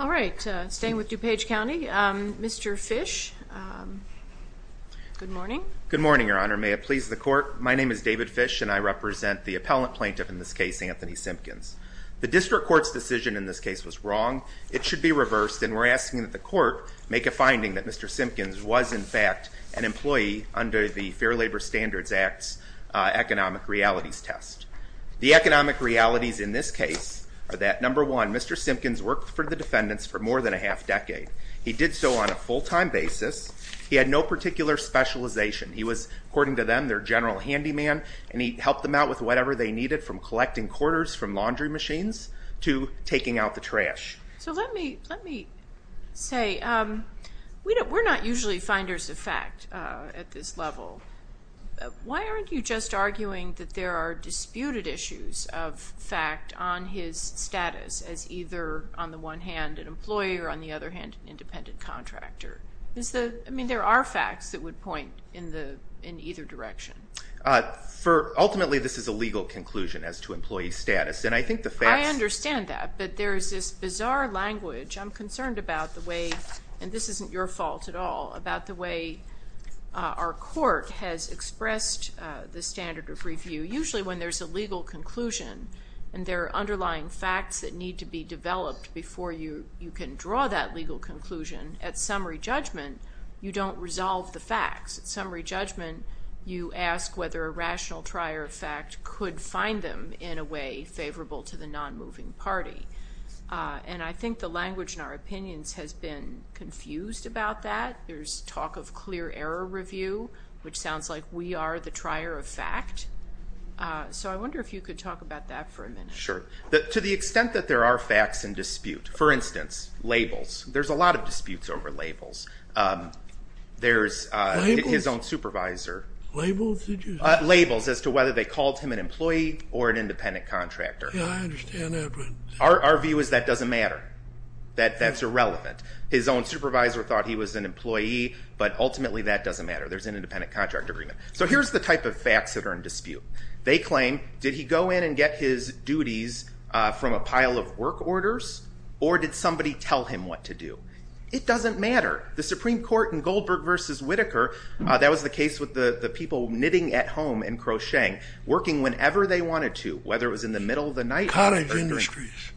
All right, staying with DuPage County, Mr. Fish. Good morning. Good morning, Your Honor. May it please the court, my name is David Fish and I represent the appellant plaintiff in this case, Anthony Simpkins. The district court's decision in this case was wrong. It should be reversed and we're asking that the court make a finding that Mr. Simpkins was in fact an employee under the Fair Labor Standards Act's economic realities test. The economic realities in this case are that number one, Mr. Simpkins worked for the defendants for more than a half decade. He did so on a full-time basis. He had no particular specialization. He was, according to them, their general handyman and he helped them out with whatever they needed from collecting quarters from laundry machines to taking out the trash. So let me, let me say, we're not usually finders of fact at this level. Why aren't you just arguing that there are disputed issues of fact on his status as either, on the one hand, an employee or on the other hand, an independent contractor? I mean, there are facts that would point in either direction. Ultimately, this is a legal conclusion as to employee status and I understand that but there's this bizarre language I'm concerned about the way, and this isn't your fault at all, about the way our court has expressed the standard of review. Usually when there's a legal conclusion and there are underlying facts that need to be developed before you can draw that legal conclusion, at summary judgment, you don't resolve the facts. At summary judgment, you ask whether a rational trier of fact could find them in a way favorable to the non-moving party. And I think the language in our opinions has been confused about that. There's talk of clear error review, which sounds like we are the trier of fact. So I wonder if you could talk about that for a minute. Sure. To the extent that there are facts in dispute, for instance, labels. There's a lot of disputes over labels. There's his own supervisor. Labels? Labels as to whether they called him an employee or an independent contractor. Yeah, I understand that, but... Our view is that doesn't matter. That's irrelevant. His own supervisor thought he was an employee, but ultimately that doesn't matter. There's an independent contract agreement. So here's the type of facts that are in dispute. They claim, did he go in and get his duties from a pile of work orders or did somebody tell him what to do? It doesn't matter. The Supreme Court in Goldberg versus Whitaker, that was the case with the people knitting at home and working whenever they wanted to, whether it was in the middle of the night. College industries.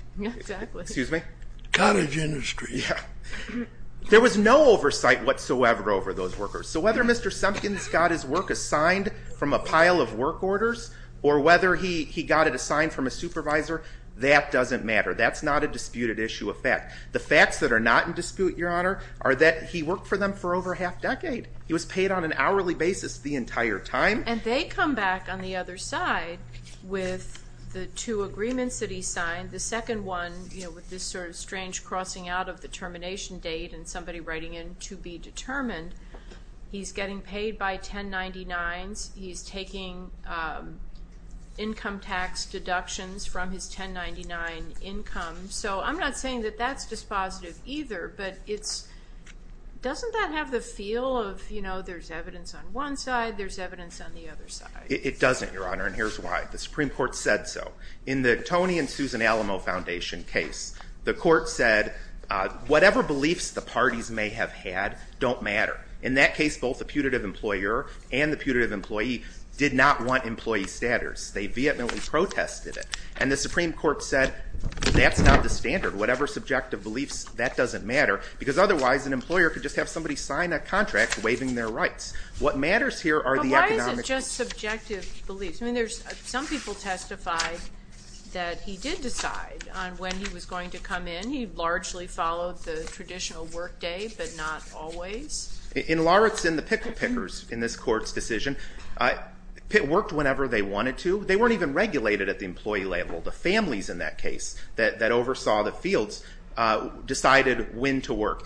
There was no oversight whatsoever over those workers. So whether Mr. Sumpkins got his work assigned from a pile of work orders or whether he he got it assigned from a supervisor, that doesn't matter. That's not a disputed issue of fact. The facts that are not in dispute, Your Honor, are that he worked for them for over half decade. He was paid on an hourly basis the entire time. And they come back on the other side with the two agreements that he signed. The second one, you know, with this sort of strange crossing out of the termination date and somebody writing in to be determined. He's getting paid by 1099s. He's taking income tax deductions from his 1099 income. So I'm not saying that that's dispositive either, but doesn't that have the feel of, you know, there's evidence on one side, there's evidence on the other side? It doesn't, Your Honor, and here's why. The Supreme Court said so. In the Tony and Susan Alamo Foundation case, the court said whatever beliefs the parties may have had don't matter. In that case, both the putative employer and the putative employee did not want employee status. They vehemently protested it. And the Supreme Court said that's not the standard. Whatever subjective beliefs, that doesn't matter. Because otherwise, an employer could just have somebody sign that contract waiving their rights. What matters here are the economic... But why is it just subjective beliefs? I mean, there's some people testified that he did decide on when he was going to come in. He largely followed the traditional work day, but not always. In Lawrence, in the Pickle Pickers, in this court's decision, it worked whenever they wanted to. They weren't even regulated at the employee level. The families in that case that oversaw the fields decided when to come in.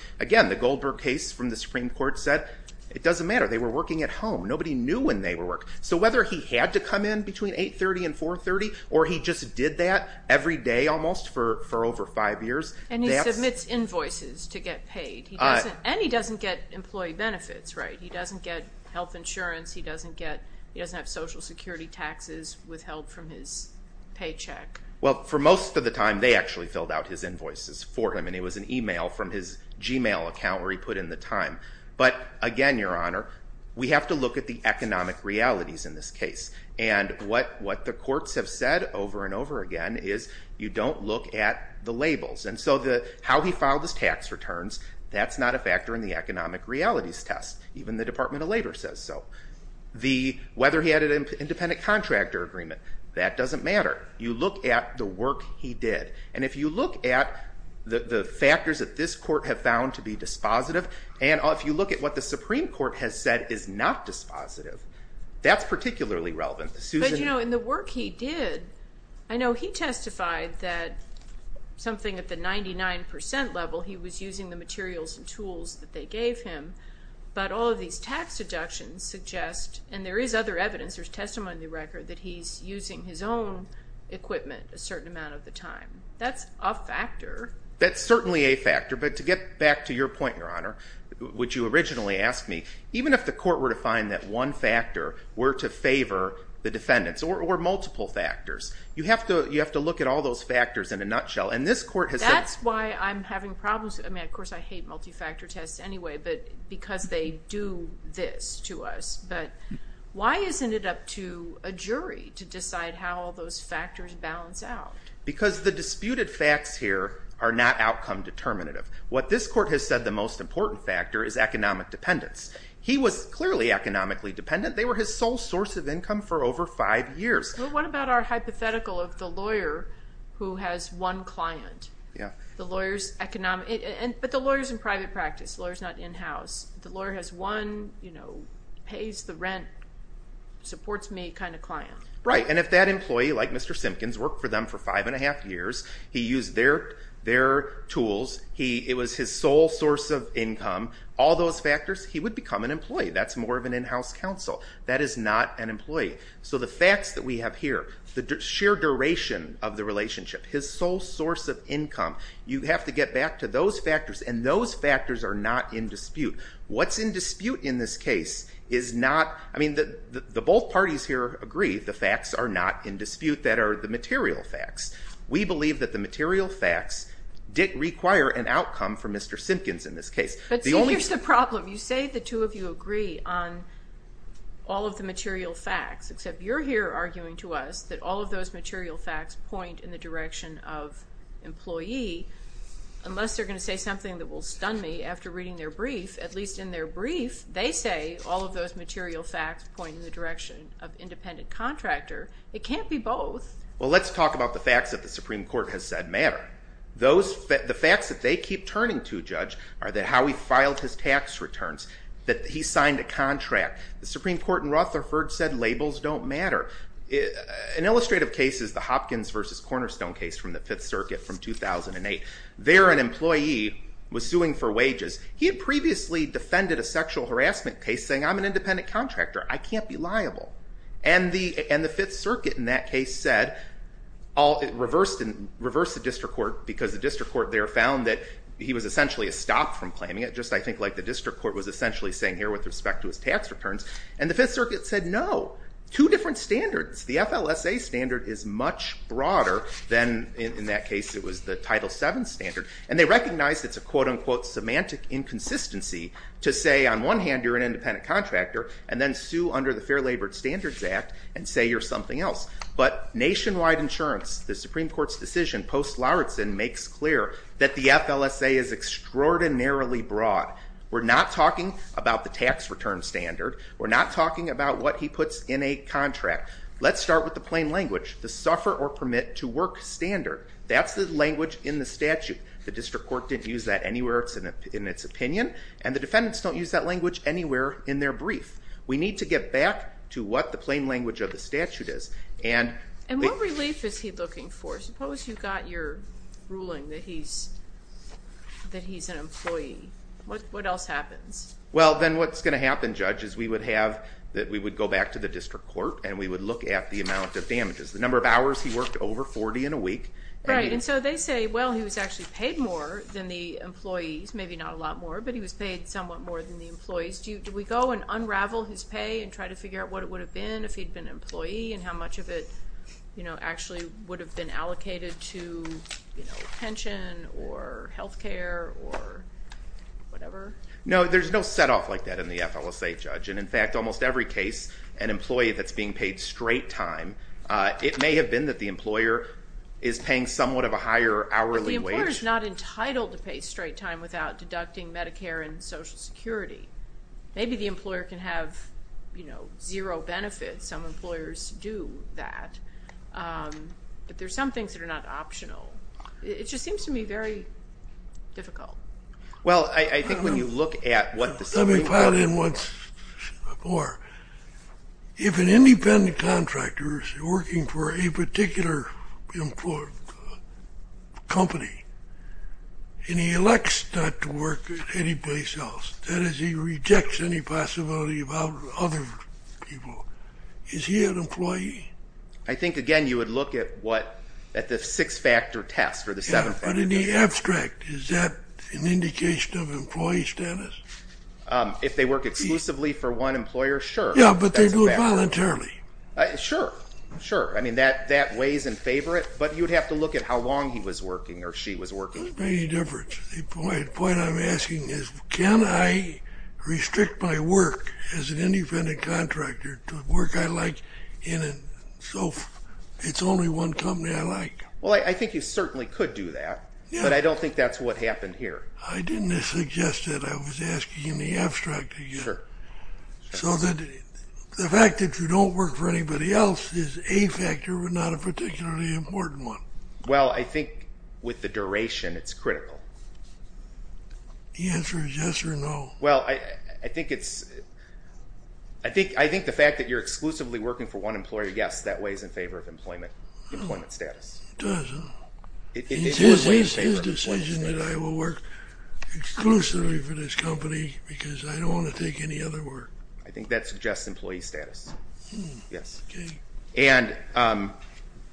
The Supreme Court said it doesn't matter. They were working at home. Nobody knew when they were working. So whether he had to come in between 830 and 430, or he just did that every day almost for over five years... And he submits invoices to get paid. And he doesn't get employee benefits, right? He doesn't get health insurance. He doesn't get social security taxes with help from his paycheck. Well, for most of the time, they actually filled out his invoices for him, and it was an email account where he put in the time. But again, Your Honor, we have to look at the economic realities in this case. And what the courts have said over and over again is you don't look at the labels. And so how he filed his tax returns, that's not a factor in the economic realities test. Even the Department of Labor says so. Whether he had an independent contractor agreement, that doesn't matter. You look at the work he did. And if you look at the factors that this court have found to be dispositive, and if you look at what the Supreme Court has said is not dispositive, that's particularly relevant. But you know, in the work he did, I know he testified that something at the 99% level, he was using the materials and tools that they gave him. But all of these tax deductions suggest, and there is other evidence, there's testimony in the record, that he's using his own equipment a certain amount of the time. That's a factor. That's certainly a factor. But to get back to your point, Your Honor, which you originally asked me, even if the court were to find that one factor were to favor the defendants, or multiple factors, you have to look at all those factors in a nutshell. And this court has said... That's why I'm having problems. I mean, of course, I hate multi-factor tests anyway, but because they do this to us. But why isn't it up to a jury to decide how all those disputed facts here are not outcome determinative? What this court has said the most important factor is economic dependence. He was clearly economically dependent. They were his sole source of income for over five years. But what about our hypothetical of the lawyer who has one client? The lawyer's economic... But the lawyer's in private practice. The lawyer's not in-house. The lawyer has one, you know, pays the rent, supports me, kind of client. Right. And if that employee, like Mr. Simpkins, worked for them for five and a half years, he used their tools, it was his sole source of income, all those factors, he would become an employee. That's more of an in-house counsel. That is not an employee. So the facts that we have here, the sheer duration of the relationship, his sole source of income, you have to get back to those factors. And those factors are not in dispute. What's in dispute in this case is not... I mean, the both parties here agree the facts are not in dispute that are the We believe that the material facts did require an outcome for Mr. Simpkins in this case. But see, here's the problem. You say the two of you agree on all of the material facts, except you're here arguing to us that all of those material facts point in the direction of employee, unless they're going to say something that will stun me after reading their brief. At least in their brief, they say all of those material facts point in the direction of independent contractor. It can't be both. Well, let's talk about the facts that the Supreme Court has said matter. The facts that they keep turning to, Judge, are how he filed his tax returns, that he signed a contract. The Supreme Court in Rutherford said labels don't matter. An illustrative case is the Hopkins v. Cornerstone case from the Fifth Circuit from 2008. There, an employee was suing for wages. He had previously defended a sexual harassment case saying, I'm an independent contractor. I can't be liable. And the Fifth Circuit, in that case, said, reversed the district court, because the district court there found that he was essentially stopped from claiming it, just I think like the district court was essentially saying here with respect to his tax returns. And the Fifth Circuit said no. Two different standards. The FLSA standard is much broader than, in that case, it was the Title VII standard. And they recognized it's a quote-unquote semantic inconsistency to say, on one hand, you're an independent contractor, and then sue under the Fair Labor Standards Act and say you're something else. But nationwide insurance, the Supreme Court's decision, post-Larsen, makes clear that the FLSA is extraordinarily broad. We're not talking about the tax return standard. We're not talking about what he puts in a contract. Let's start with the plain language. The suffer or permit to work standard. That's the language in the statute. The district court didn't use that anywhere. It's in its opinion. And the defendants don't use that language anywhere in their brief. We need to get back to what the plain language of the statute is. And what relief is he looking for? Suppose you got your ruling that he's, that he's an employee. What else happens? Well then what's going to happen, Judge, is we would have, that we would go back to the district court and we would look at the amount of damages. The number of hours he worked, over 40 in a week. Right, and so they say, well he was actually paid more than the employees, maybe not a lot more, but he was paid somewhat more than the employees. Do we go and unravel his pay and try to figure out what it would have been if he'd been employee and how much of it, you know, actually would have been allocated to, you know, pension or health care or whatever? No, there's no set off like that in the FLSA, Judge. And in fact, almost every case, an employee that's being paid straight time, it may have been that the employer is paying somewhat of a higher hourly wage. But the employer's not in Social Security. Maybe the employer can have, you know, zero benefits. Some employers do that, but there's some things that are not optional. It just seems to me very difficult. Well, I think when you look at what the... Let me pile in once more. If an independent contractor is working for a particular company, and he elects not to work at any place else, that is, he rejects any possibility about other people, is he an employee? I think, again, you would look at what, at the six-factor test or the seven-factor test. But in the abstract, is that an indication of employee status? If they work exclusively for one employer, sure. Yeah, but they do it voluntarily. Sure, sure. I mean, that weighs in favor of it, but you'd have to look at how long he was working or she was working. It doesn't make any difference. The point I'm asking is, can I restrict my work as an independent contractor to work I like in a... So it's only one company I like. Well, I think you certainly could do that, but I don't think that's what happened here. I didn't suggest it. I was asking the abstract again. So the fact that you don't work for anybody else is a factor, but not a particularly important one. Well, I think with the duration, it's critical. The answer is yes or no. Well, I think it's... I think the fact that you're exclusively working for one employer, yes, that weighs in favor of employment status. It does. It's his decision that I will work exclusively for this because I don't want to take any other work. I think that suggests employee status. Yes. Okay.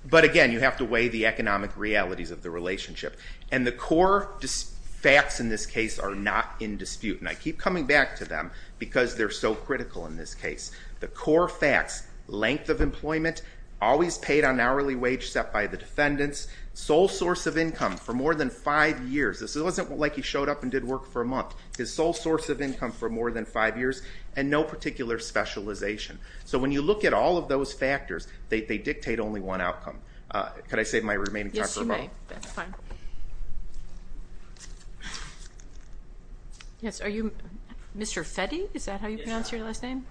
But again, you have to weigh the economic realities of the relationship, and the core facts in this case are not in dispute, and I keep coming back to them because they're so critical in this case. The core facts, length of employment, always paid on hourly wage set by the defendants, sole source of income for more than five years. This wasn't like he showed up and did work for a month. His sole source of income for more than five years, and no particular specialization. So when you look at all of those factors, they dictate only one outcome. Could I save my remaining time for a moment? Yes, you may. Yes, are you Mr. Fetty? Is that how you pronounce your last name?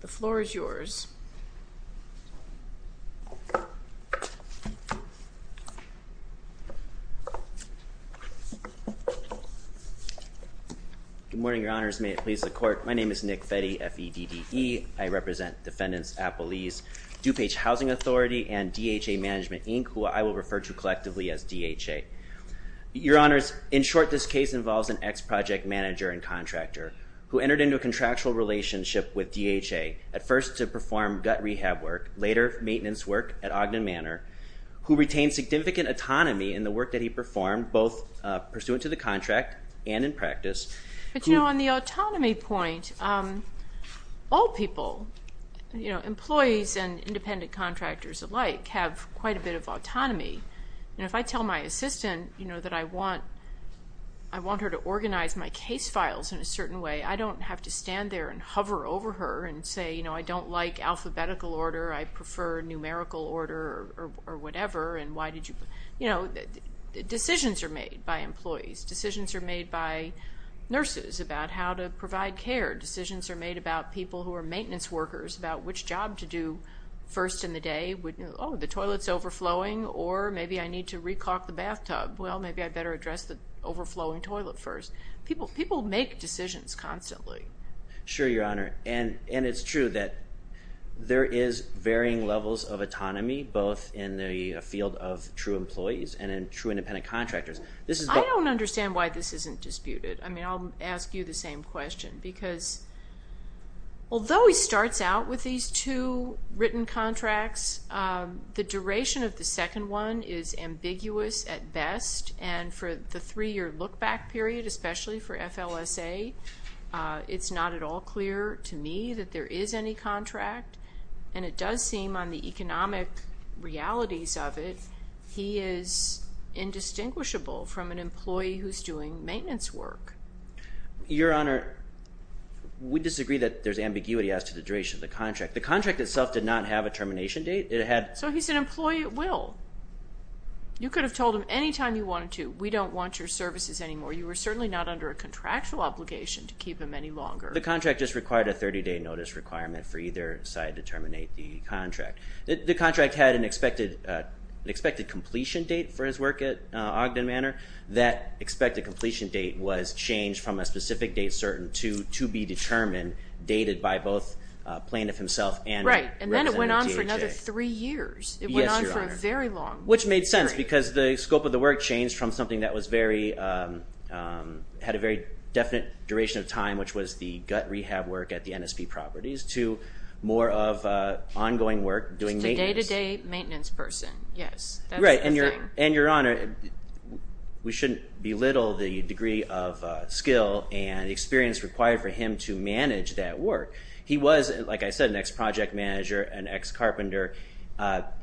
The floor is yours. Good morning, your honors. May it please the court. My name is Nick Fetty, F-E-D-D-E. I represent defendants Appelese, DuPage Housing Authority, and DHA Management Inc., who I will refer to collectively as DHA. Your honors, in short, this case involves an ex-project manager and contractor who entered into a contractual relationship with DHA, at first to perform gut rehab work, later maintenance work at Ogden Manor, who retained significant autonomy in the work that he performed, both pursuant to the contract and in practice. But you know, on the autonomy point, all people, you know, employees and independent contractors alike, have quite a bit of autonomy. And if I tell my assistant, you know, that I want, I want her to organize my case files in a certain way, I don't have to stand there and hover over her and say, you know, I don't like alphabetical order, I prefer numerical order or whatever, and why did you, you know, decisions are made by employees. Decisions are made by nurses about how to provide care. Decisions are made about people who are maintenance workers about which job to do first in the day. Oh, the toilet's overflowing, or maybe I need to re-clock the bathtub. Well, maybe I'd better address the overflowing toilet first. People, people make decisions constantly. Sure, your honor, and, and it's true that there is varying levels of autonomy, both in the field of true employees and in true contractors. I don't understand why this isn't disputed. I mean, I'll ask you the same question, because although he starts out with these two written contracts, the duration of the second one is ambiguous at best, and for the three-year look-back period, especially for FLSA, it's not at all clear to me that there is any contract. And it does seem on the economic realities of it, he is indistinguishable from an employee who's doing maintenance work. Your honor, we disagree that there's ambiguity as to the duration of the contract. The contract itself did not have a termination date. It had... So he's an employee at will. You could have told him anytime you wanted to, we don't want your services anymore. You were certainly not under a contractual obligation to keep him any longer. The contract just required a 30-day notice requirement for either side to terminate the contract. The contract had an expected, an expected completion date for his work at Ogden Manor. That expected completion date was changed from a specific date certain to be determined, dated by both plaintiff himself and... Right, and then it went on for another three years. Yes, your honor. It went on for a very long time. Which made sense, because the scope of the work changed from something that was very, had a very definite duration of time, which was the gut rehab work at the NSP Properties, to more of ongoing work doing maintenance. He's a day-to-day maintenance person, yes. Right, and your honor, we shouldn't belittle the degree of skill and experience required for him to manage that work. He was, like I said, an ex-project manager, an ex-carpenter.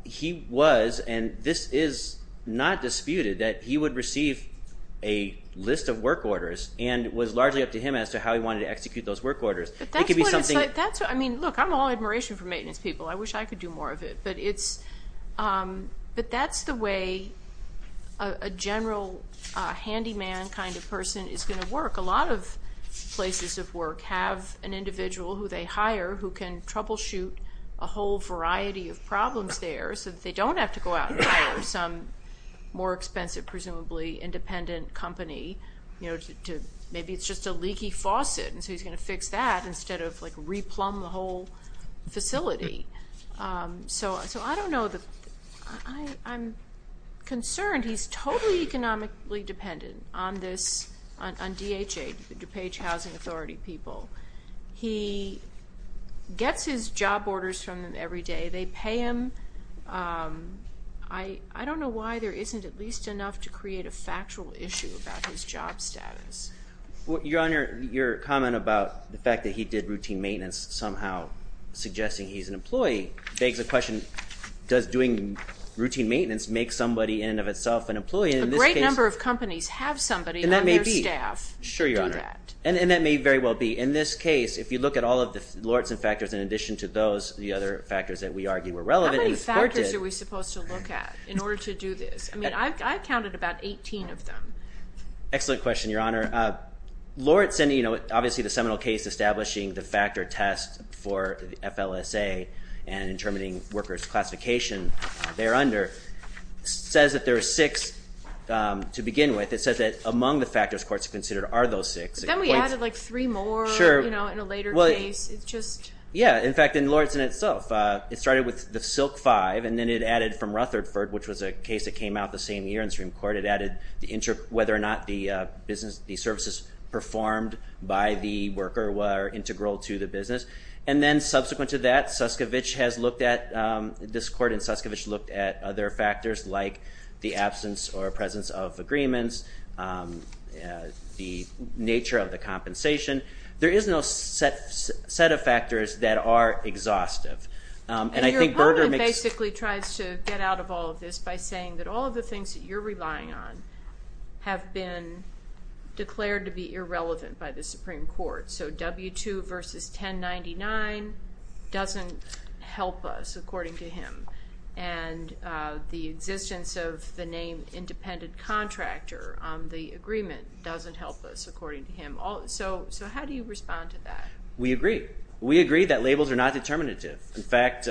He was, and this is not disputed, that he would receive a list of work orders and it was largely up to him as to how he wanted to execute those work orders. It could be something... I mean, look, I'm all admiration for maintenance people. I wish I could do more of it, but it's, but that's the way a general handyman kind of person is going to work. A lot of places of work have an individual who they hire who can troubleshoot a whole variety of problems there, so that they don't have to go out and hire some more expensive, presumably independent company, you know, to, maybe it's just a leaky faucet, and so he's going to fix that So, I don't know, I'm concerned he's totally economically dependent on this, on DHA, DuPage Housing Authority people. He gets his job orders from them every day. They pay him. I don't know why there isn't at least enough to create a factual issue about his job status. Your honor, your comment about the fact that he did routine maintenance somehow suggesting he's an employee begs the question, does doing routine maintenance make somebody in and of itself an employee? A great number of companies have somebody on their staff to do that. Sure, your honor, and that may very well be. In this case, if you look at all of the Lortz and factors in addition to those, the other factors that we argue were relevant and supported... How many factors are we supposed to look at in order to do this? I mean, I've counted about 18 of them. Excellent question, your honor. Lortz and, you know, obviously the Seminole case establishing the factor test for the FLSA and intermitting workers classification there under says that there are six to begin with. It says that among the factors courts have considered are those six. Then we added like three more, you know, in a later case. It's just... Yeah, in fact, in Lortz in itself, it started with the Silk 5 and then it added from Rutherford, which was a case that came out the same year in performed by the worker, were integral to the business. And then subsequent to that, Suskevich has looked at... This court in Suskevich looked at other factors like the absence or presence of agreements, the nature of the compensation. There is no set of factors that are exhaustive. And I think Berger makes... And your opponent basically tries to get out of all of this by saying that all of the things that you're relevant by the Supreme Court. So W-2 versus 1099 doesn't help us, according to him. And the existence of the name independent contractor on the agreement doesn't help us, according to him. So how do you respond to that? We agree. We agree that labels are not determinative. In fact...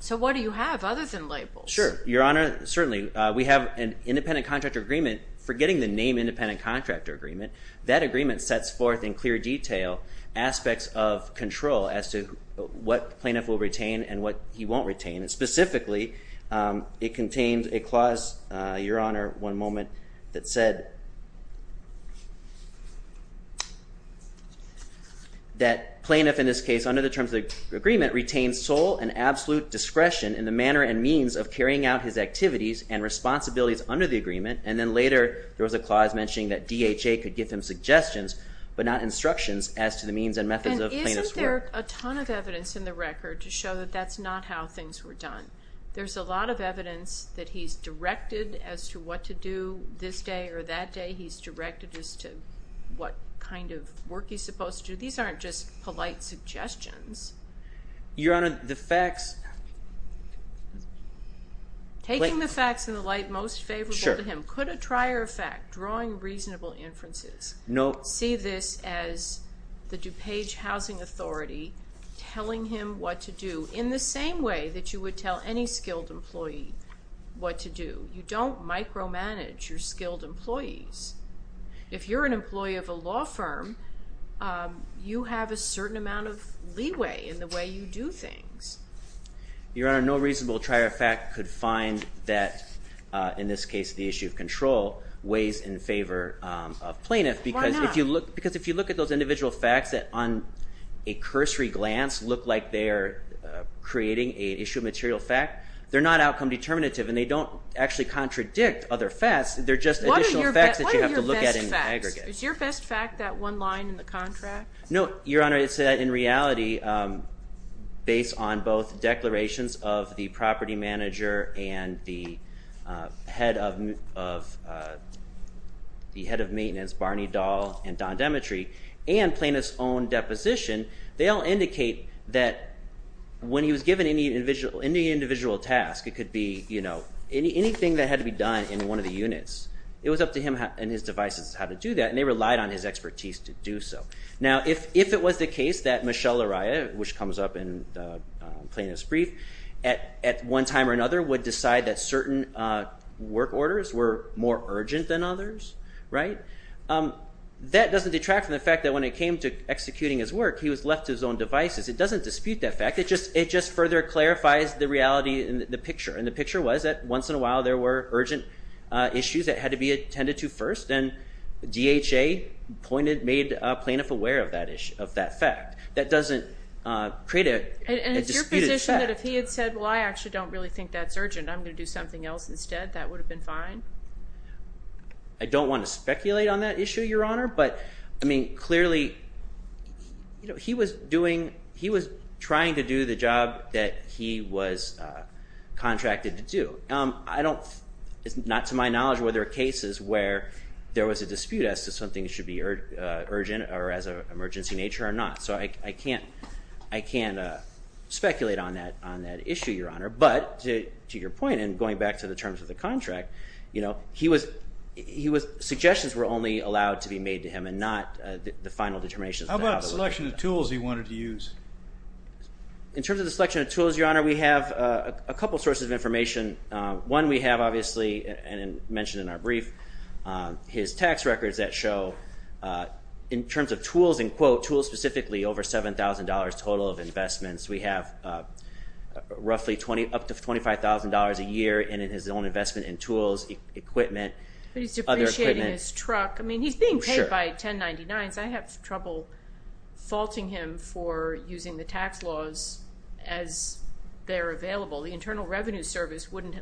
So what do you have other than labels? Sure, your honor. Certainly, we have an independent contractor agreement. Forgetting the name independent contractor agreement, that agreement sets forth in clear detail aspects of control as to what plaintiff will retain and what he won't retain. And specifically, it contains a clause, your honor, one moment, that said that plaintiff, in this case, under the terms of the agreement, retains sole and absolute discretion in the manner and means of carrying out his activities and responsibilities under the agreement. And then later, there was a clause mentioning that DHA could give him suggestions, but not instructions, as to the means and methods of plaintiff's work. And isn't there a ton of evidence in the record to show that that's not how things were done? There's a lot of evidence that he's directed as to what to do this day or that day. He's directed as to what kind of work he's supposed to do. These aren't just polite suggestions. Your honor, the facts in the light most favorable to him, could a trier of fact, drawing reasonable inferences, see this as the DuPage housing authority telling him what to do in the same way that you would tell any skilled employee what to do? You don't micromanage your skilled employees. If you're an employee of a law firm, you have a certain amount of leeway in the way you do things. Your honor, no I don't think that, in this case, the issue of control weighs in favor of plaintiff. Because if you look at those individual facts that, on a cursory glance, look like they're creating an issue of material fact, they're not outcome determinative and they don't actually contradict other facts. They're just additional facts that you have to look at in aggregate. Is your best fact that one line in the contract? No, your honor, it's that in reality, based on both declarations of the property manager and the head of maintenance, Barney Dahl and Don Demetri, and plaintiff's own deposition, they all indicate that when he was given any individual task, it could be anything that had to be done in one of the units. It was up to him and his devices how to do that, and they relied on his expertise to do so. Now if it was the case that Michelle Araya, which comes up in the plaintiff's brief, at one time or another would decide that certain work orders were more urgent than others, that doesn't detract from the fact that when it came to executing his work, he was left to his own devices. It doesn't dispute that fact, it just further clarifies the reality in the picture. And the picture was that once in a while there were urgent issues that had to be attended to first, and DHA made a plaintiff aware of that fact. That doesn't create a disputed fact. And it's your position that if he had said, well I actually don't really think that's urgent, I'm going to do something else instead, that would have been fine? I don't want to speculate on that issue, Your Honor, but I mean clearly, you know, he was doing, he was trying to do the job that he was contracted to do. I don't, it's not to my knowledge where there are cases where there was a dispute as to something that should be urgent or as an emergency nature or not. So I can't speculate on that issue, Your Honor, but to your point and going back to the terms of the contract, you know, he was, suggestions were only allowed to be made to him and not the final determination. How about a selection of tools he wanted to use? In terms of the selection of tools, Your Honor, we have a couple sources of information. One we have obviously, and mentioned in our in terms of tools, in quote, tools specifically over $7,000 total of investments. We have roughly up to $25,000 a year in his own investment in tools, equipment. But he's depreciating his truck. I mean he's being paid by 1099s. I have trouble faulting him for using the tax laws as they're available. The Internal Revenue Service wouldn't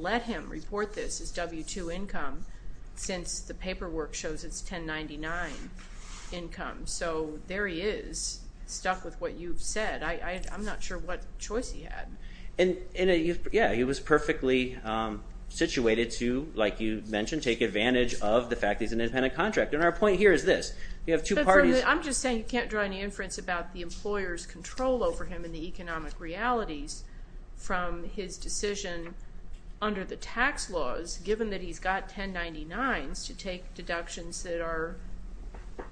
let him report this W-2 income since the paperwork shows it's 1099 income. So there he is, stuck with what you've said. I'm not sure what choice he had. And yeah, he was perfectly situated to, like you mentioned, take advantage of the fact he's an independent contractor. And our point here is this, you have two parties. I'm just saying you can't draw any inference about the employer's control over him in the economic realities from his decision under the tax laws, given that he's got 1099s to take deductions that are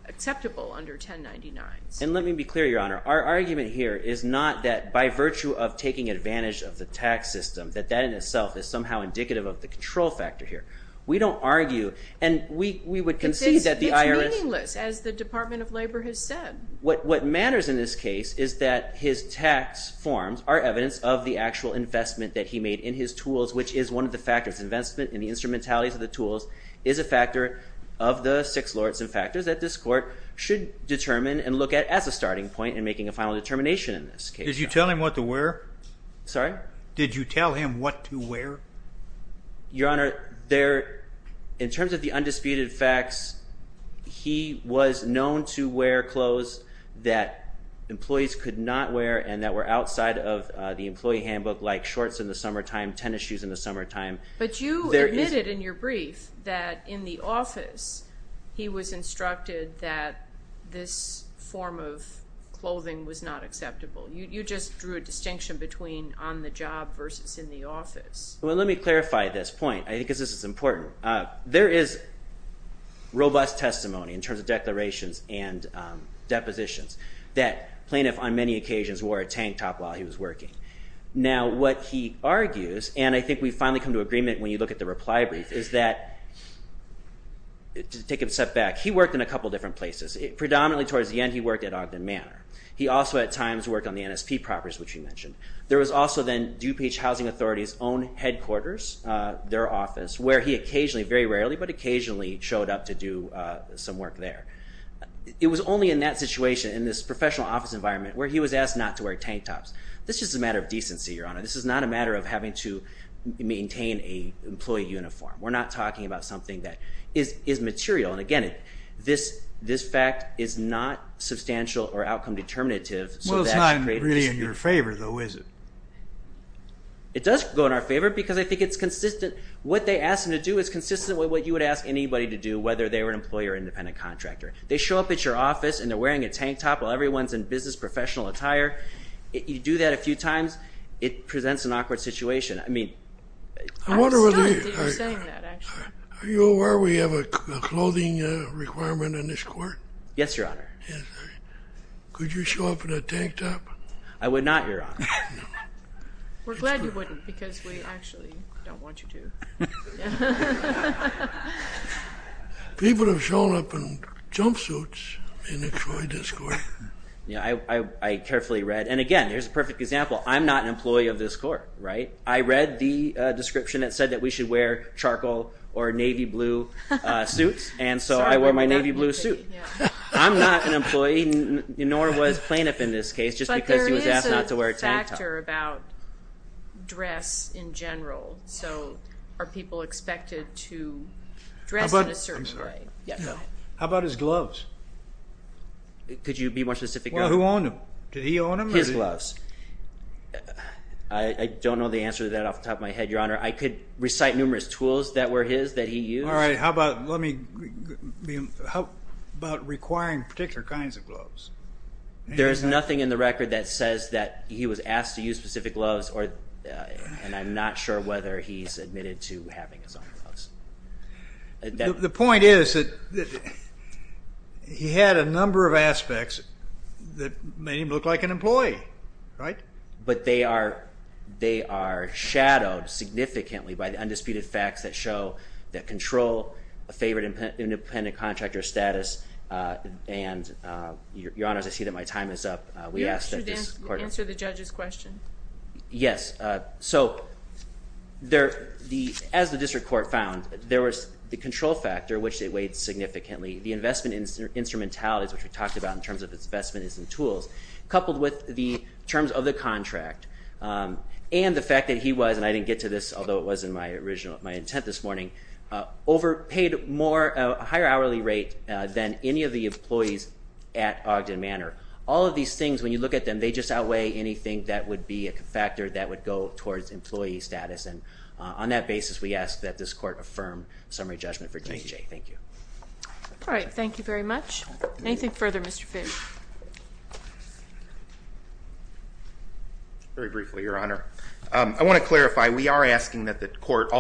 acceptable under 1099s. And let me be clear, Your Honor, our argument here is not that by virtue of taking advantage of the tax system, that that in itself is somehow indicative of the control factor here. We don't argue, and we would concede that the IRS... It's meaningless, as the Department of Labor has said. What matters in this case is that his tax forms are evidence of the actual investment that he made in his tools, which is one of the factors. Investment in the instrumentality of the tools is a factor of the six lords and factors that this court should determine and look at as a starting point in making a final determination in this case. Did you tell him what to wear? Sorry? Did you tell him what to wear? Your Honor, in terms of the office, he was known to wear clothes that employees could not wear and that were outside of the employee handbook, like shorts in the summertime, tennis shoes in the summertime. But you admitted in your brief that in the office he was instructed that this form of clothing was not acceptable. You just drew a distinction between on the job versus in the office. Well, let me clarify this point, because this is important. There is robust testimony in terms of declarations and depositions that plaintiff on many occasions wore a tank top while he was working. Now what he argues, and I think we finally come to agreement when you look at the reply brief, is that, to take a step back, he worked in a couple different places. Predominantly towards the end he worked at Ogden Manor. He also at times worked on the NSP properties, which you mentioned. There was also then DuPage Housing Authority's own headquarters, their office, where he occasionally, very rarely, but occasionally showed up to do some work there. It was only in that situation, in this professional office environment, where he was asked not to wear tank tops. This is a matter of decency, Your Honor. This is not a matter of having to maintain a employee uniform. We're not talking about something that is material. And again, this fact is not substantial or outcome determinative. Well, it's not really in your favor, though, is it? It does go in our favor, because I think it's consistent. What they asked him to do is consistent with what you would ask anybody to do, whether they were an employee or independent contractor. They show up at your office and they're wearing a tank top while everyone's in business professional attire. You do that a few times, it presents an awkward situation. I mean... I was stunned that you were saying that, actually. Are you aware we have a clothing requirement in this court? Yes, Your Honor. Could you show up in a tank top? I would not, Your Honor. We're glad you wouldn't, because we People have shown up in jumpsuits in the Troy District. Yeah, I carefully read, and again, there's a perfect example. I'm not an employee of this court, right? I read the description that said that we should wear charcoal or navy blue suits, and so I wore my navy blue suit. I'm not an employee, nor was plaintiff in this case, just because he was asked not to wear a tank top. But there is a factor about dress in general. So, are people expected to dress in a certain way? How about his gloves? Could you be more specific? Well, who owned them? Did he own them? His gloves. I don't know the answer to that off the top of my head, Your Honor. I could recite numerous tools that were his, that he used. All right, how about, let me, how about requiring particular kinds of gloves? There's nothing in the record that says that he was asked to use specific gloves, and I'm not sure whether he's admitted to having his own gloves. The point is that he had a number of aspects that made him look like an employee, right? But they are, they are shadowed significantly by the undisputed facts that show, that control a favored independent contractor status, and Your Honor, as I see that my time is up, we asked that this court... Answer the judge's question. Yes, so there, the, as the district court found, there was the control factor, which it weighed significantly, the investment instrumentalities, which we talked about in terms of its investment in some tools, coupled with the terms of the contract, and the fact that he was, and I didn't get to this, although it was in my original, my intent this morning, overpaid more, a higher hourly rate than any of the employees at Ogden Manor. All of these things, when you look at them, they just outweigh anything that would be a factor that would go towards employee status, and on that basis, we asked that this court affirm summary judgment for KJ. Thank you. All right, thank you very much. Anything further, Mr. Fisch? Very briefly, Your Honor. I want to clarify, we are asking that the court also